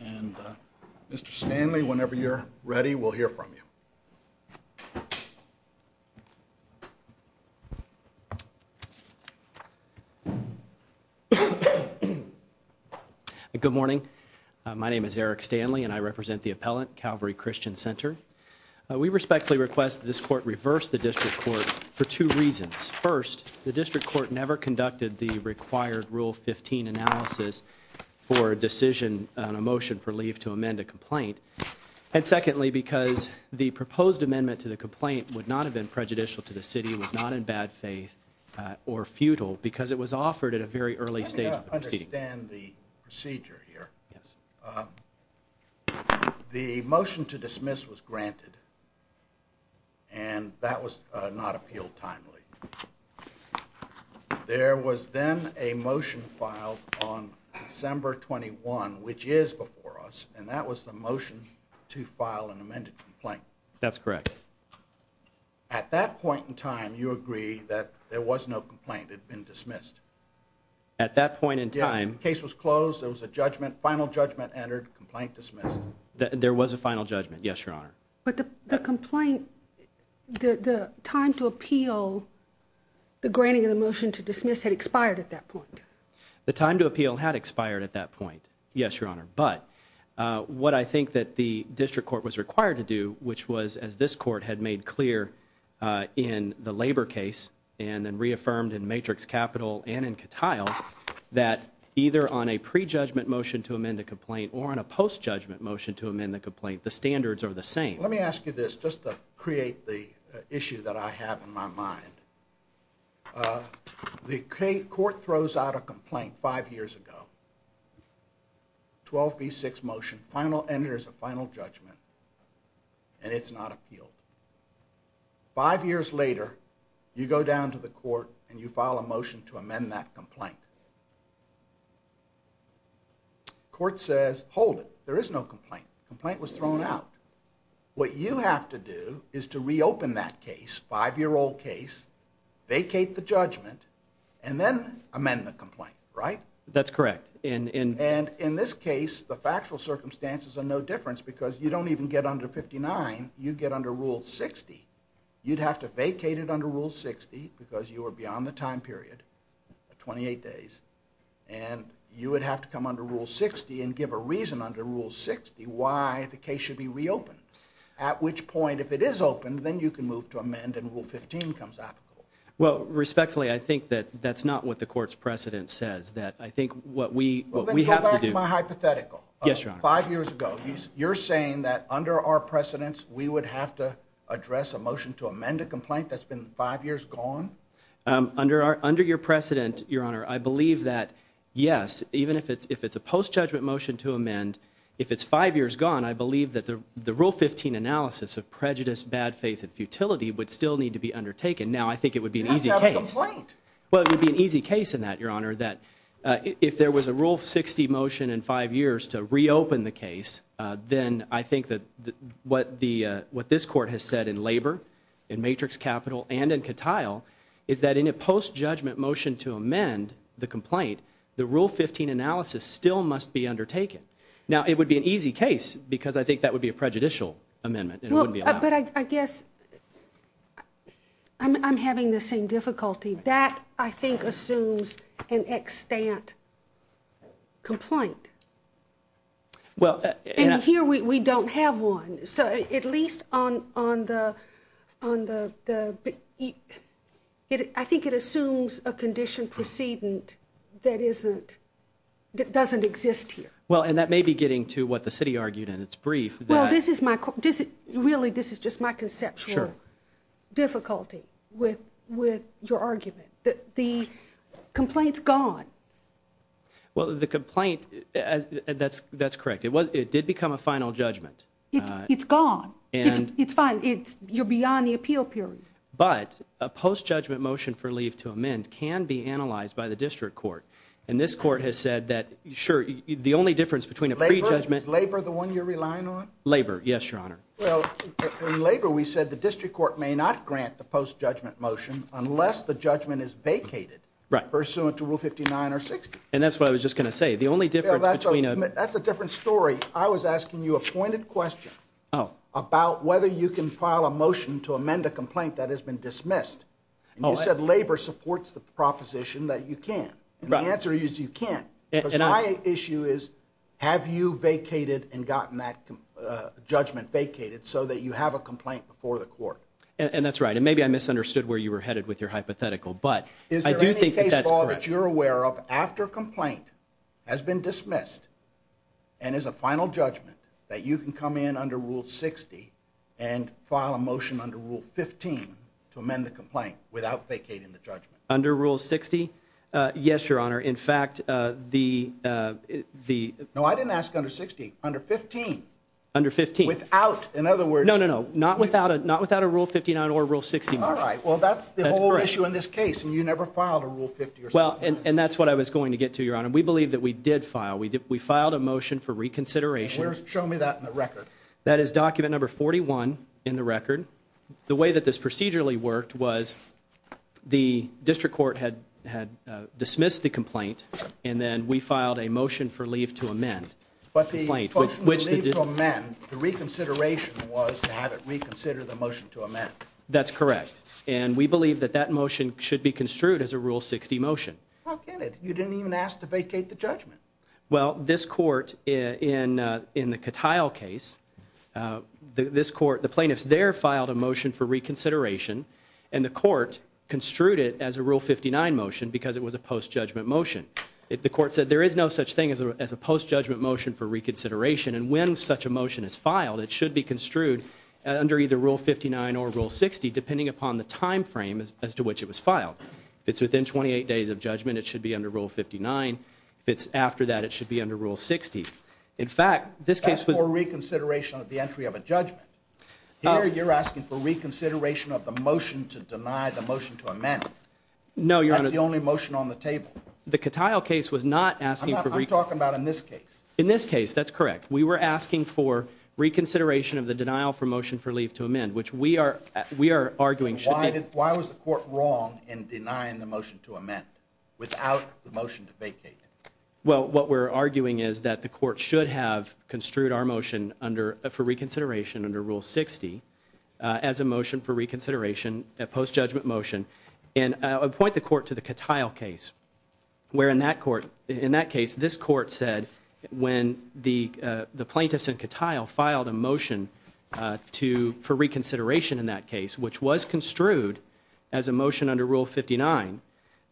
and Mr. Stanley, whenever you're ready, we'll hear from you. Good morning. My name is Eric Stanley and I represent the appellant, Calvary Christian Center. We respectfully request this court reverse the district court for two reasons. First, the district court never conducted the a motion for leave to amend a complaint. And secondly, because the proposed amendment to the complaint would not have been prejudicial to the city, was not in bad faith or futile because it was offered at a very early stage of the proceeding. Let me understand the procedure here. The motion to dismiss was granted and that was not appealed timely. There was then a motion filed on December 21, which is before us. And that was the motion to file an amended complaint. That's correct. At that point in time, you agree that there was no complaint had been dismissed at that point in time. Case was closed. There was a judgment. Final judgment entered complaint dismissed. There was a final judgment. Yes, Your Honor. But the complaint, the time to appeal the granting of the motion to dismiss had expired at that point. The time to appeal had expired at that point. Yes, Your Honor. But what I think that the district court was required to do, which was as this court had made clear in the labor case and then reaffirmed in matrix capital and in cattile that either on a prejudgment motion to amend the complaint or on a post judgment motion to amend the complaint, the standards are the same. Let me ask you this just to create the issue that I have in my mind. Uh, the court throws out a complaint five years ago, 12 B six motion final and there's a final judgment and it's not appealed. Five years later, you go down to the court and you file a motion to amend that complaint. Court says, hold it. There is no complaint. Complaint was thrown out. What you have to do is to reopen that case. Five year old case, vacate the judgment and then amend the complaint, right? That's correct. And and in this case, the factual circumstances are no difference because you don't even get under 59. You get under Rule 60. You'd have to vacated under Rule 60 because you are beyond the time period 28 days and you would have to come under Rule 60 and give a reason under Rule 60 why the case should be reopened. At which point, if it is open, then you can move to amend and Rule 15 comes out. Well, respectfully, I think that that's not what the court's precedent says that I think what we what we have to do my hypothetical. Yes, your five years ago, you're saying that under our precedents, we would have to address a motion to amend a complaint that's been five years gone. Um, under our under your post judgment motion to amend. If it's five years gone, I believe that the rule 15 analysis of prejudice, bad faith and futility would still need to be undertaken. Now, I think it would be an easy case. Well, it would be an easy case in that your honor that if there was a rule 60 motion in five years to reopen the case, then I think that what the what this court has said in labor in matrix capital and in cattile is that in a post judgment motion to amend the Rule 15 analysis still must be undertaken. Now, it would be an easy case because I think that would be a prejudicial amendment. But I guess I'm having the same difficulty that I think assumes an extent complaint. Well, here we don't have one. So at least on on the on the I think it doesn't exist here. Well, and that may be getting to what the city argued in its brief. Well, this is my really, this is just my conceptual difficulty with with your argument that the complaints gone. Well, the complaint that's that's correct. It was it did become a final judgment. It's gone and it's fine. It's you're beyond the appeal period. But a post judgment motion for leave to amend can be analyzed by the district court. And this court has said that sure, the only difference between a prejudgment labor, the one you're relying on labor. Yes, Your Honor. Well, labor, we said the district court may not grant the post judgment motion unless the judgment is vacated pursuant to Rule 59 or 60. And that's what I was just gonna say. The only difference between a that's a different story. I was asking you a pointed question about whether you can file a motion to amend a complaint that has been dismissed. You said labor supports the proposition that you can. The answer is you can't issue is, have you vacated and gotten that judgment vacated so that you have a complaint before the court? And that's right. And maybe I misunderstood where you were headed with your hypothetical. But I do think that you're aware of after complaint has been dismissed and is a final judgment that you can come in under Rule 60 and file a motion under Rule 15 to amend the complaint without vacating the under Rule 60. Yes, Your Honor. In fact, the the no, I didn't ask under 60 under 15 under 15 without. In other words, no, no, no, not without it, not without a Rule 59 or Rule 60. All right, well, that's the whole issue in this case, and you never filed a rule. Well, and that's what I was going to get to your honor. We believe that we did file. We did. We filed a motion for reconsideration. Show me that in the record. That is document number 41 in the record. The way that this procedurally worked was the district court had had dismissed the complaint, and then we filed a motion for leave to amend, but the complaint which the reconsideration was to have it reconsider the motion to amend. That's correct. And we believe that that motion should be construed as a Rule 60 motion. How can it? You didn't even ask to vacate the judgment. Well, this court in in the cattile case, uh, this court, the plaintiffs there filed a motion for reconsideration, and the court construed it as a Rule 59 motion because it was a post judgment motion. The court said there is no such thing as a post judgment motion for reconsideration. And when such a motion is filed, it should be construed under either Rule 59 or Rule 60, depending upon the time frame as to which it was filed. It's within 28 days of judgment. It should be under Rule 59. If it's after that, it should be under Rule 60. In fact, this case was for reconsideration of the entry of a judgment. You're asking for reconsideration of the motion to deny the motion to amend. No, you're the only motion on the table. The cattile case was not asking for talk about in this case. In this case, that's correct. We were asking for reconsideration of the denial for motion for leave to amend, which we are. We are arguing should be. Why was the court wrong in denying the motion to amend without the motion to vacate? Well, what we're arguing is that the court should have construed our motion under for reconsideration under Rule 60 as a motion for reconsideration at post judgment motion and appoint the court to the cattile case, where in that court in that case, this court said when the plaintiffs and cattile filed a motion to for reconsideration in that case, which was construed as a motion under Rule 59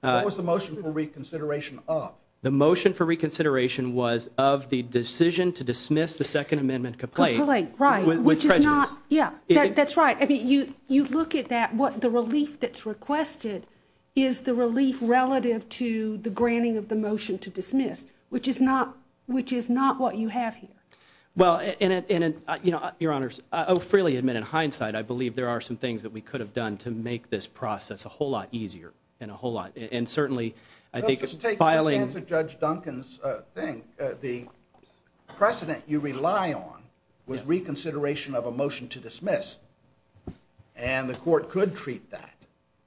was the motion for reconsideration of the motion for reconsideration was of the decision to dismiss the Second Amendment complaint, which is not. Yeah, that's right. I mean, you you look at that. What the relief that's requested is the relief relative to the granting of the motion to dismiss, which is not which is not what you have here. Well, and you know, your honors freely admit in hindsight, I believe there are some things that we could have done to make this process a whole lot easier and a whole lot. And certainly I think just filing Judge Duncan's thing, the precedent you rely on was reconsideration of a motion to dismiss, and the court could treat that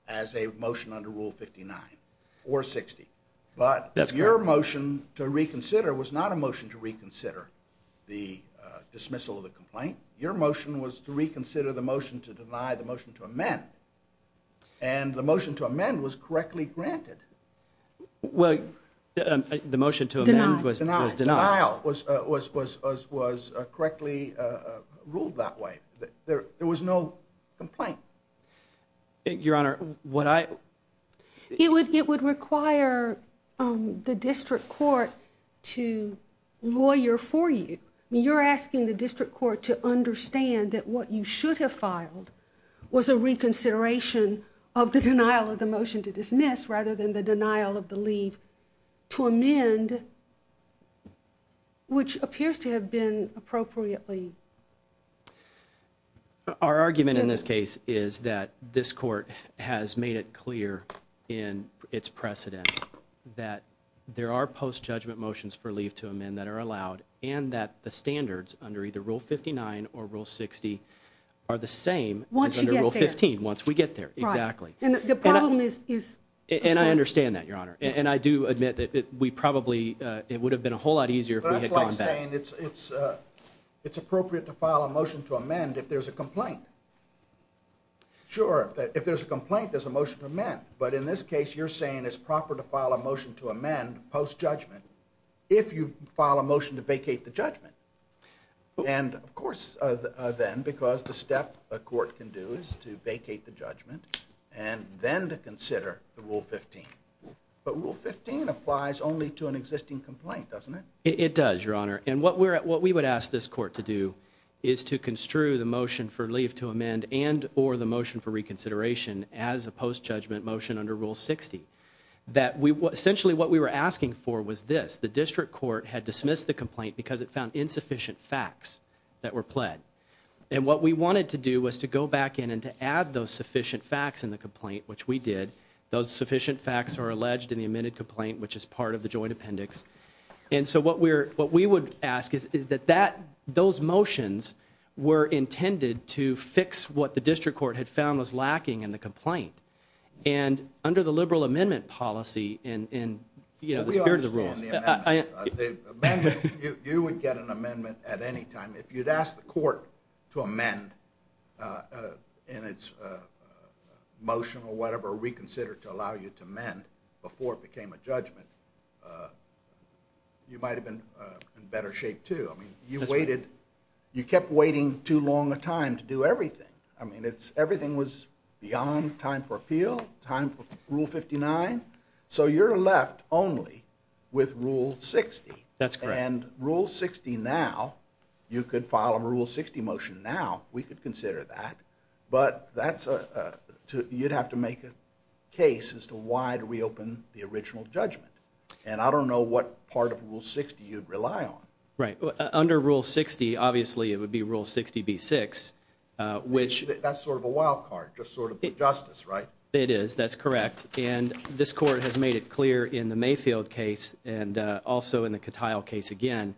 as a motion under Rule 59 or 60. But that's your motion to reconsider was not a motion to reconsider the dismissal of the complaint. Your motion was to reconsider the motion to deny the motion to amend, and the motion to amend was correctly granted. Well, the motion to amend was was was was was was correctly ruled that way. There was no complaint. Your Honor, what I it would it would require the district court to lawyer for you. You're asking the district court to understand that what you should have filed was a reconsideration of the denial of the motion to dismiss. Rather than the denial of the leave to amend, which appears to have been appropriately. Our argument in this case is that this court has made it clear in its precedent that there are post judgment motions for leave to amend that are allowed and that the standards under either Rule 59 or Rule 60 are the same once you get 15 once we get there. Exactly. And the problem is, is and I understand that, Your Honor. And I do admit that we probably it would have been a whole lot easier if we had gone back. It's it's it's appropriate to file a motion to amend if there's a complaint. Sure, if there's a complaint, there's a motion to amend. But in this case, you're saying it's proper to file a motion to amend post judgment if you file a motion to vacate the judgment. And of course, then, because the step court can do is to vacate the judgment and then to consider the Rule 15. But Rule 15 applies only to an existing complaint, doesn't it? It does, Your Honor. And what we're what we would ask this court to do is to construe the motion for leave to amend and or the motion for reconsideration as a post judgment motion under Rule 60 that we essentially what we were asking for was this. The district court had dismissed the complaint because it found insufficient facts that were pled. And what we wanted to do was to go back in and to add those sufficient facts in the complaint, which we did. Those sufficient facts are alleged in the amended complaint, which is part of the joint appendix. And so what we're what we would ask is, is that that those motions were intended to fix what the district court had found was lacking in the complaint and under the liberal amendment policy in, you know, the spirit rules. You would get an amendment at any time if you'd ask the court to amend in its motion or whatever reconsidered to allow you to mend before it became a judgment. You might have been in better shape, too. I mean, you waited, you kept waiting too long a time to do everything. I mean, it's everything was beyond time for appeal, time for Rule 59. So you're left only with Rule 60. That's correct. And Rule 60 now, you could file a Rule 60 motion now, we could consider that. But that's a, you'd have to make a case as to why do we open the original judgment. And I don't know what part of Rule 60 you'd rely on. Right. Under Rule 60, obviously it would be Rule 60 B6, which that's sort of a wild card, just sort of justice, right? It is. That's correct. And this court has made it clear in the Mayfield case and also in the Cattile case again,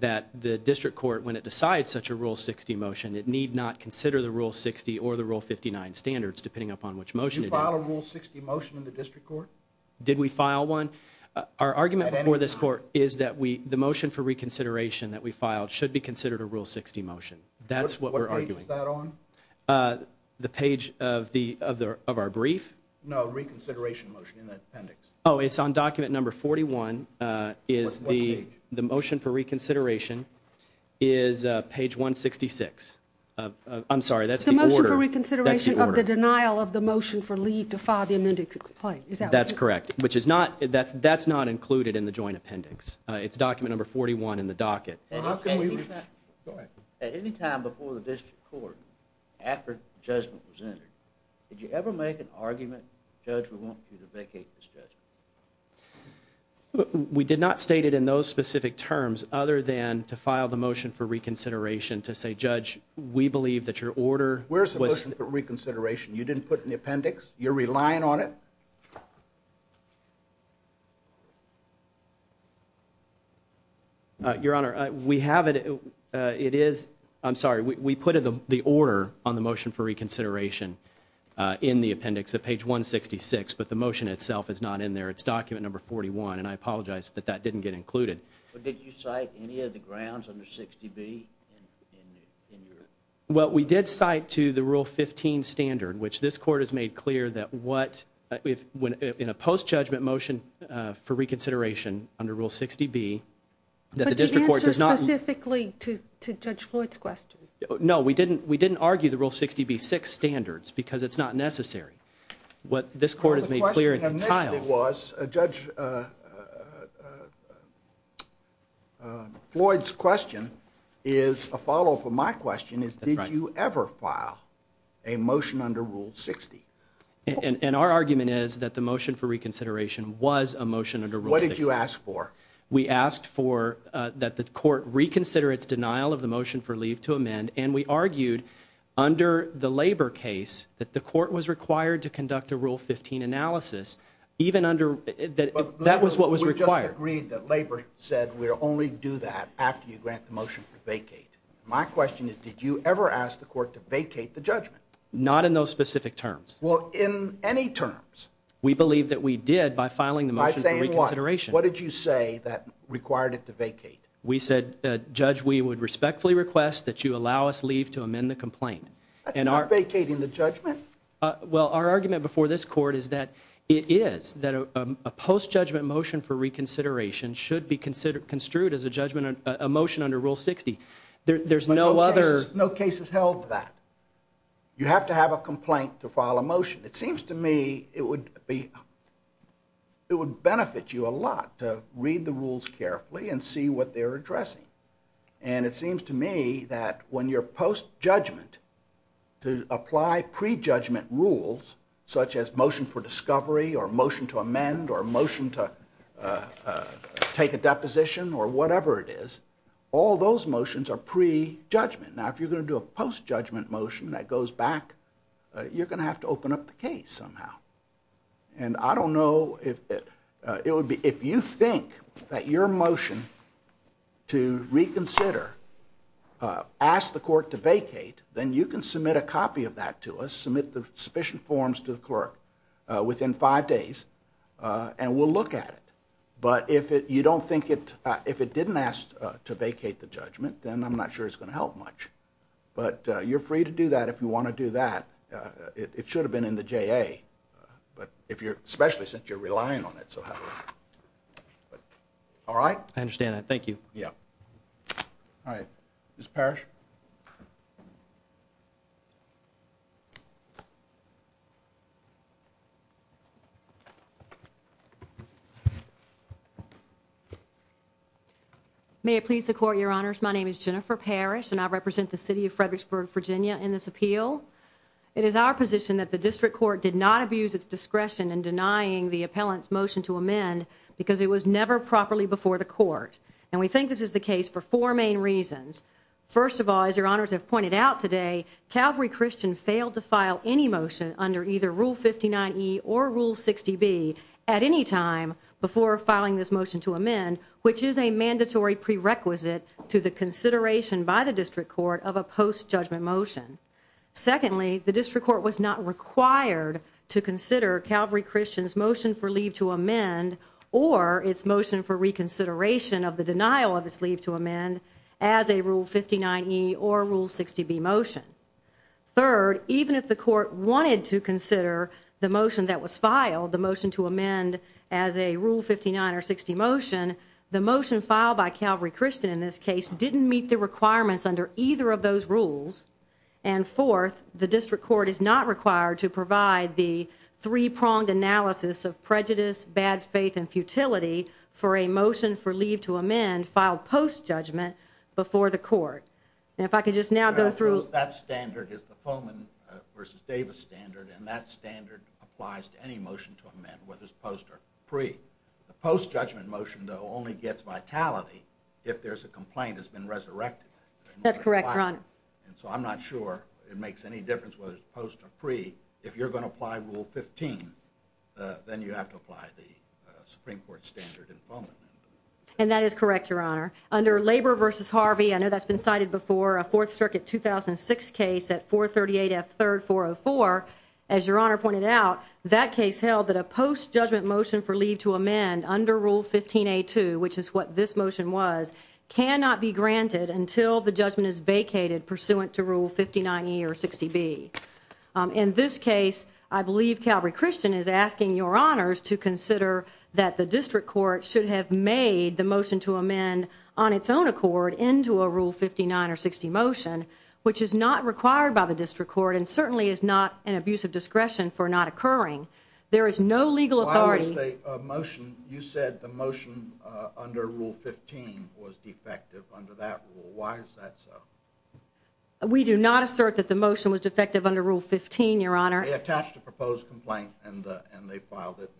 that the district court, when it decides such a Rule 60 motion, it need not consider the Rule 60 or the Rule 59 standards, depending upon which motion you file a Rule 60 motion in the district court. Did we file one? Our argument for this court is that we, the motion for reconsideration that we That's what we're arguing. What page is that on? The page of the, of our brief? No, reconsideration motion in the appendix. Oh, it's on document number 41, is the motion for reconsideration is page 166. I'm sorry, that's the order. The motion for reconsideration of the denial of the motion for leave to file the amended complaint. Is that right? That's correct. Which is not, that's not included in the court after judgment was entered. Did you ever make an argument? Judge, we want you to vacate this judgment. We did not state it in those specific terms other than to file the motion for reconsideration to say, Judge, we believe that your order was reconsideration. You didn't put in the appendix, you're sorry, we put the order on the motion for reconsideration in the appendix of page 166, but the motion itself is not in there. It's document number 41, and I apologize that that didn't get included. But did you cite any of the grounds under 60B? Well, we did cite to the Rule 15 standard, which this court has made clear that what, if, in a post-judgment motion for reconsideration under Rule 60B, that the no, we didn't, we didn't argue the Rule 60B-6 standards because it's not necessary. What this court has made clear in the title. The question initially was, Judge, Floyd's question is a follow-up of my question, is did you ever file a motion under Rule 60? And our argument is that the motion for reconsideration was a motion under Rule 60. What did you ask for? We asked for, that the court reconsider its motion for leave to amend, and we argued under the Labor case that the court was required to conduct a Rule 15 analysis, even under, that was what was required. But we just agreed that Labor said we'll only do that after you grant the motion for vacate. My question is, did you ever ask the court to vacate the judgment? Not in those specific terms. Well, in any terms. We believe that we did by filing the motion for reconsideration. By saying what? What did you say that required it to vacate? We said, Judge, we would respectfully request that you allow us leave to amend the complaint. That's not vacating the judgment. Well, our argument before this court is that it is, that a post-judgment motion for reconsideration should be construed as a judgment, a motion under Rule 60. There's no other. No case has held that. You have to have a complaint to file a motion. It seems to me it would be, it would benefit you a lot to read the rules carefully and see what they're addressing. And it seems to me that when your post-judgment, to apply pre-judgment rules, such as motion for discovery or motion to amend or motion to take a deposition or whatever it is, all those motions are pre-judgment. Now if you're going to do a post-judgment motion that goes back, you're going to have to open up the case somehow. And I don't know if it would be, if you think that your motion to reconsider, ask the court to vacate, then you can submit a copy of that to us, submit the sufficient forms to the clerk within five days and we'll look at it. But if it, you don't think it, if it didn't ask to vacate the judgment, then I'm not sure it's going to help much. But you're free to do that if you want to do that. It should have been in the JA. But if you're, especially since you're relying on it so heavily. All right? I understand that, thank you. Yeah. All right, Ms. Parrish. May it please the court, your honors, my name is Jennifer Parrish and I represent the city of Fredericksburg, Virginia in this appeal. It is our position that the district court did not abuse its discretion in denying the appellant's motion to amend because it was never properly before the court. And we think this is the case for four main reasons. First of all, as your honors have pointed out today, Calvary Christian failed to file any motion under either Rule 59 E or Rule 60 B at any time before filing this motion to amend, which is a mandatory prerequisite to the consideration by the district court of a motion. Secondly, the district court was not required to consider Calvary Christian's motion for leave to amend or its motion for reconsideration of the denial of its leave to amend as a Rule 59 E or Rule 60 B motion. Third, even if the court wanted to consider the motion that was filed, the motion to amend as a Rule 59 or 60 motion, the motion filed by Calvary Christian in this case didn't meet the requirements under either of those rules. And fourth, the district court is not required to provide the three pronged analysis of prejudice, bad faith and futility for a motion for leave to amend filed post judgment before the court. And if I could just now go through that standard is the Fulman versus Davis standard, and that standard applies to any motion to amend whether it's post or pre. The post judgment motion, though, only gets vitality if there's a complaint has been resurrected. That's correct. And so I'm not sure it makes any difference whether it's post or pre. If you're gonna apply Rule 15, then you have to apply the Supreme Court standard in Poland. And that is correct, Your Honor. Under Labor versus Harvey. I know that's been cited before a Fourth Circuit 2006 case at 4 38 F 3rd 404. As Your Honor pointed out, that case held that a post judgment motion for leave to amend under Rule 15 a two, which is what this motion was, cannot be granted until the judgment is vacated pursuant to Rule 59 year 60 B. In this case, I believe Calvary Christian is asking your honors to consider that the district court should have made the motion to amend on its own accord into a Rule 59 or 60 motion, which is not required by the district court and certainly is not an abuse of discretion for not occurring. There is no legal authority motion. You said the motion under Rule 15 was defective under that rule. Why is that so? We do not assert that the motion was defective under Rule 15, Your Honor. Attached a proposed complaint and they filed it.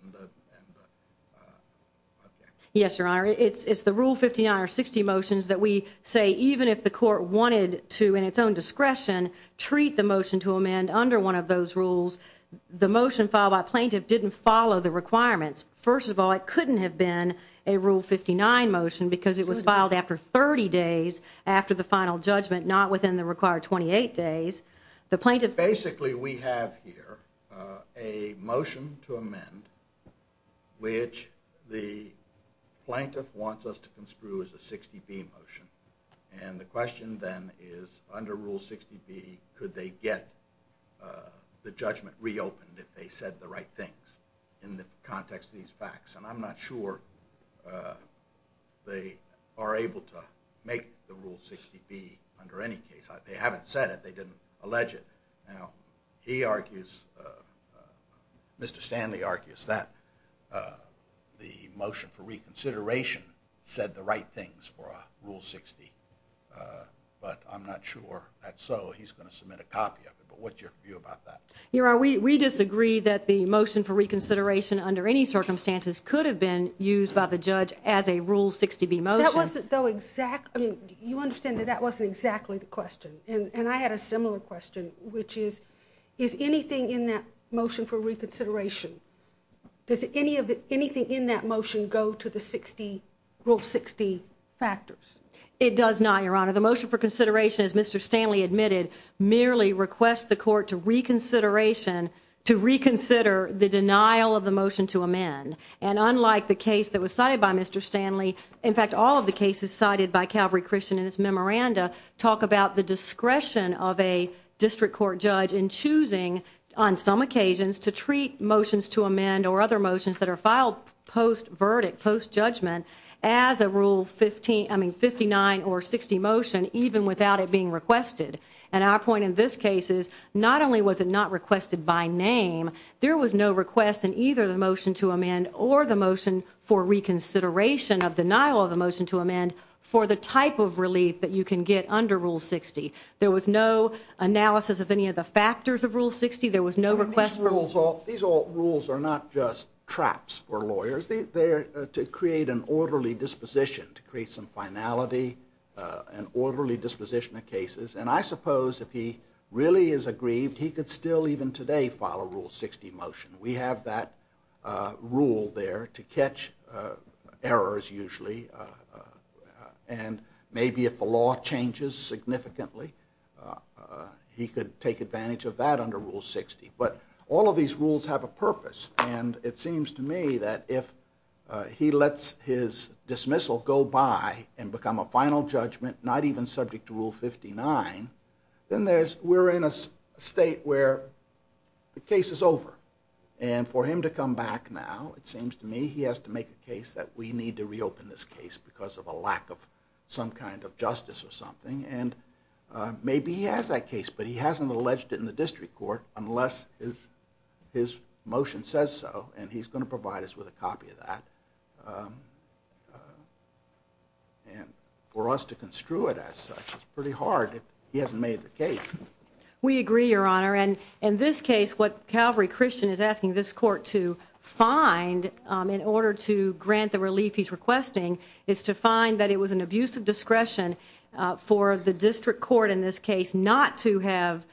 Yes, Your Honor. It's the Rule 59 or 60 motions that we say, even if the court wanted to, in its own discretion, treat the motion to amend under one of those rules, the motion filed by plaintiff didn't follow the requirements. First of all, it couldn't have been a Rule 59 motion because it was filed after 30 days after the final judgment, not within the required 28 days. The plaintiff... Basically, we have here a motion to amend, which the plaintiff wants us to construe as a 60 B motion. And the question then is, under Rule 60 B, could they get the judgment reopened if they said the right things in the context of these facts? And I'm not sure they are able to make the Rule 60 B under any case. They haven't said it. They didn't allege it. Now, he argues, Mr. Stanley argues that the motion for reconsideration said the right things for Rule 60. But I'm not sure that's so. He's going to submit a copy of it. But what's your view about that? Your Honor, we disagree that the motion for reconsideration under any circumstances could have been used by the judge as a Rule 60 B motion. That wasn't, though, exactly, you understand that that wasn't exactly the question. And I had a similar question, which is, is anything in that motion for reconsideration, does any of it, anything in that motion, go to the 60 Rule 60 factors? It does not, Your Honor. The motion for consideration, as Mr. Stanley admitted, merely requests the court to reconsideration to reconsider the denial of the motion to amend. And unlike the case that was cited by Mr. Stanley, in fact, all of the cases cited by Calvary Christian in his memoranda talk about the discretion of a district court judge in choosing, on some occasions, to treat motions to amend or other motions that are filed post-verdict, post-judgment, as a Rule 59 or 60 motion, even without it being requested. And our point in this case is, not only was it not requested by name, there was no request in either the motion to amend or the motion for reconsideration of denial of the motion to amend for the type of relief that you can get under Rule 60. There was no analysis of any of the factors of Rule 60. There was no request for... These rules are not just traps for lawyers. They are to create an orderly disposition, to create some finality, an orderly disposition of cases. And I suppose if he really is aggrieved, he could still, even today, file a Rule 60 motion. We have that rule there to catch errors, usually, and maybe if the law changes significantly, he could take advantage of that under Rule 60. But all of these rules have a purpose, and it seems to me that if he lets his dismissal go by and become a final judgment, not even subject to Rule 59, then we're in a state where the case is over. And for him to come back now, it seems to me, he has to make a case that we need to reopen this case because of a lack of some kind of justice or something. And maybe he has that case, but he hasn't alleged it in district court unless his motion says so, and he's going to provide us with a copy of that. And for us to construe it as such is pretty hard if he hasn't made the case. We agree, Your Honor, and in this case what Calvary Christian is asking this court to find in order to grant the relief he's requesting is to find that it was an abuse of discretion for the district court in this case not to have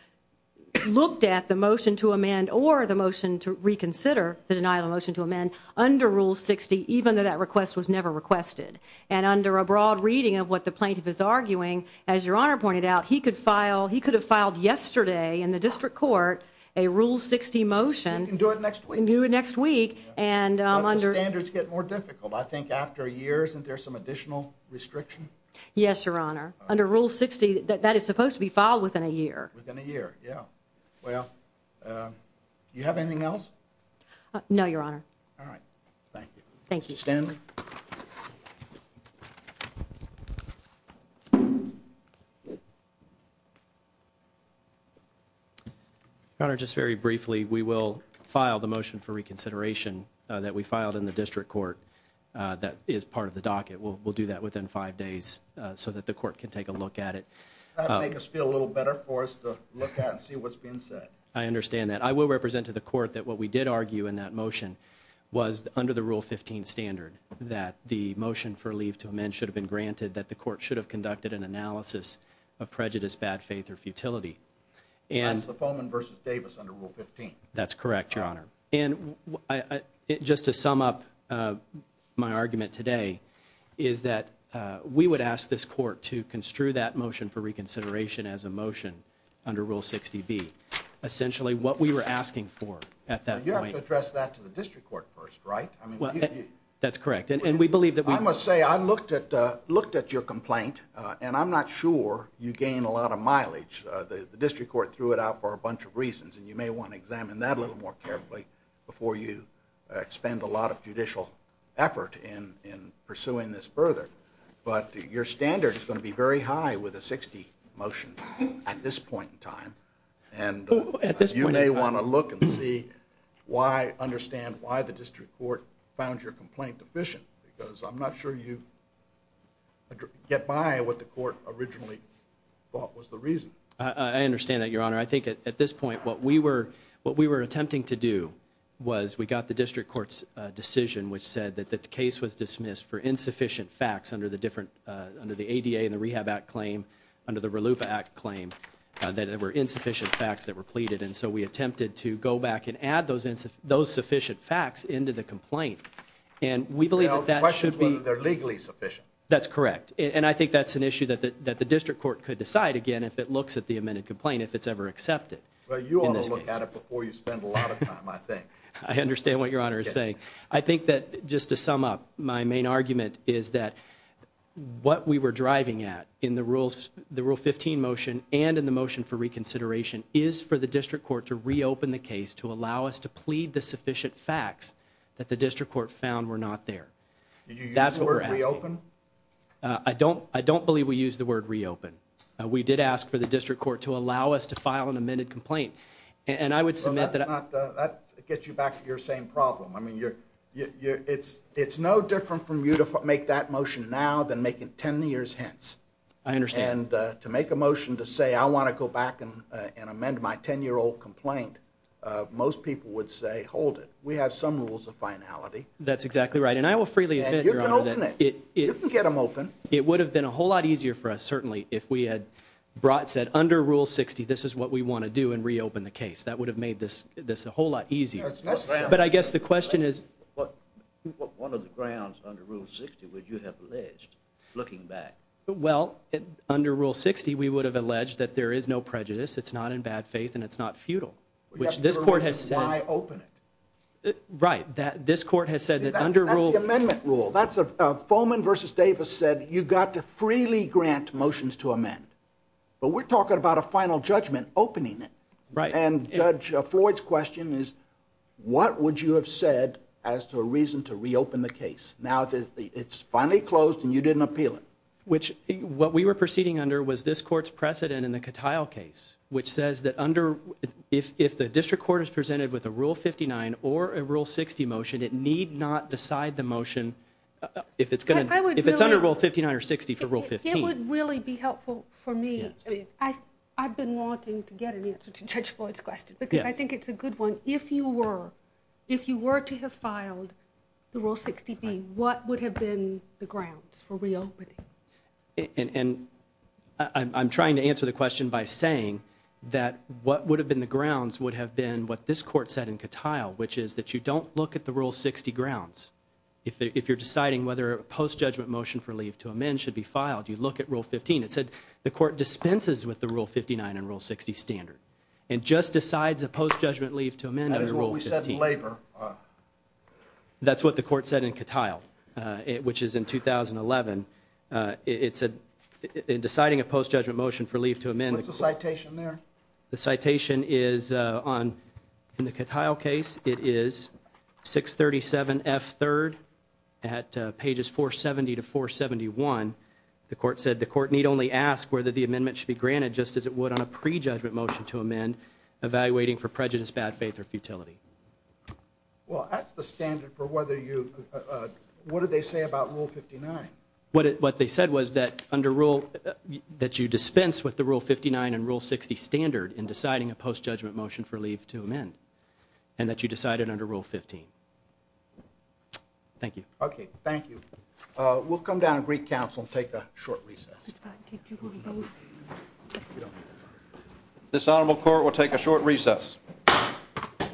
looked at the motion to amend or the motion to reconsider the denial of motion to amend under Rule 60, even though that request was never requested. And under a broad reading of what the plaintiff is arguing, as Your Honor pointed out, he could have filed yesterday in the district court a Rule 60 motion. You can do it next week. You can do it next week. But the standards get more difficult. I think after a year, isn't there some additional restriction? Yes, Your Honor, just very briefly, we will file the motion for reconsideration that we filed in the district court that is part of the docket. We'll do that within five days so that the court can take a look at it. I understand that. I will represent to the court that what we did argue in that motion was under the Rule 15 standard that the motion for leave to amend should have been granted, that the court should have conducted an analysis of prejudice, bad faith or futility. That's the Foman v. Davis under Rule 15. That's correct, Your Honor. And just to we would ask this court to construe that motion for reconsideration as a motion under Rule 60B. Essentially, what we were asking for at that point. You have to address that to the district court first, right? That's correct. And we believe that... I must say, I looked at your complaint and I'm not sure you gain a lot of mileage. The district court threw it out for a bunch of reasons and you may want to examine that a little more carefully before you expend a lot of judicial effort in pursuing this further. But your standard is going to be very high with a 60 motion at this point in time and you may want to look and see why, understand why the district court found your complaint deficient. Because I'm not sure you get by what the court originally thought was the reason. I understand that, Your Honor. I think at this point what we were attempting to do was we got the district court's decision which said that the case was dismissed for insufficient facts under the ADA and the Rehab Act claim, under the Relief Act claim, that there were insufficient facts that were pleaded. And so we attempted to go back and add those sufficient facts into the complaint. And we believe that should be... The question is whether they're legally sufficient. That's correct. And I think that's an issue that the district court could decide again if it looks at the amended complaint, if it's ever accepted. Well, you ought to look at it before you spend a lot of time, I think. I understand what Your Honor is saying. I think that, just to sum up, my main argument is that what we were driving at in the Rule 15 motion and in the motion for reconsideration is for the district court to reopen the case to allow us to plead the sufficient facts that the district court found were not there. Did you use the word reopen? I don't believe we used the word reopen. We did ask for the district court to allow us to file an amended complaint. And I would submit that... I mean, it's no different for you to make that motion now than making ten years hence. I understand. And to make a motion to say I want to go back and amend my ten-year-old complaint, most people would say, hold it. We have some rules of finality. That's exactly right. And I will freely admit, Your Honor, that it would have been a whole lot easier for us, certainly, if we had said, under Rule 60, this is what we want to do and reopen the case. That would have made this a whole lot easier. But I guess the question is... What grounds under Rule 60 would you have alleged, looking back? Well, under Rule 60, we would have alleged that there is no prejudice, it's not in bad faith, and it's not futile. Which this court has said... Why open it? Right. This court has said that under Rule... That's the amendment rule. That's... Foman v. Davis said, you've got to freely grant motions to amend. But we're talking about a final judgment, opening it. Right. And Judge Floyd's question is, what would you have said as to a reason to reopen the case? Now, it's finally closed and you didn't appeal it. Which, what we were proceeding under was this court's precedent in the Cattile case, which says that under... If the district court is presented with a Rule 59 or a Rule 60 motion, it need not decide the motion if it's going to... If it's under Rule 59 or 60 for Rule 15. It would really be helpful for me. I've been wanting to get an answer to Judge Floyd's question because I think it's a good one. If you were, if you were to have filed the Rule 60B, what would have been the grounds for reopening? And I'm trying to answer the question by saying that what would have been the grounds would have been what this court said in Cattile, which is that you don't look at the Rule 60 grounds. If you're deciding whether a post-judgment motion for leave to amend should be filed, you look at Rule 15. It said the court dispenses with the Rule 59 and Rule 60 standard and just decides a post-judgment leave to amend under Rule 15. That is what we said in labor. That's what the court said in Cattile, which is in 2011. It said in deciding a post-judgment motion for leave to amend... What's the citation there? The citation is on, in the Cattile case, it is 637F3rd at pages 470 to 471. The court said the court need only ask whether the amendment should be granted just as it would on a pre-judgment motion to amend evaluating for prejudice, bad faith or futility. Well, that's the standard for whether you, what did they say about Rule 59? What they said was that under Rule, that you dispense with the Rule 59 and Rule 60 standard in deciding a post-judgment motion for leave to amend and that you decide it under Rule 15. Thank you. Okay, thank you. We'll come down to Greek Council and take a short recess. This Honorable Court will take a short recess. Thank you.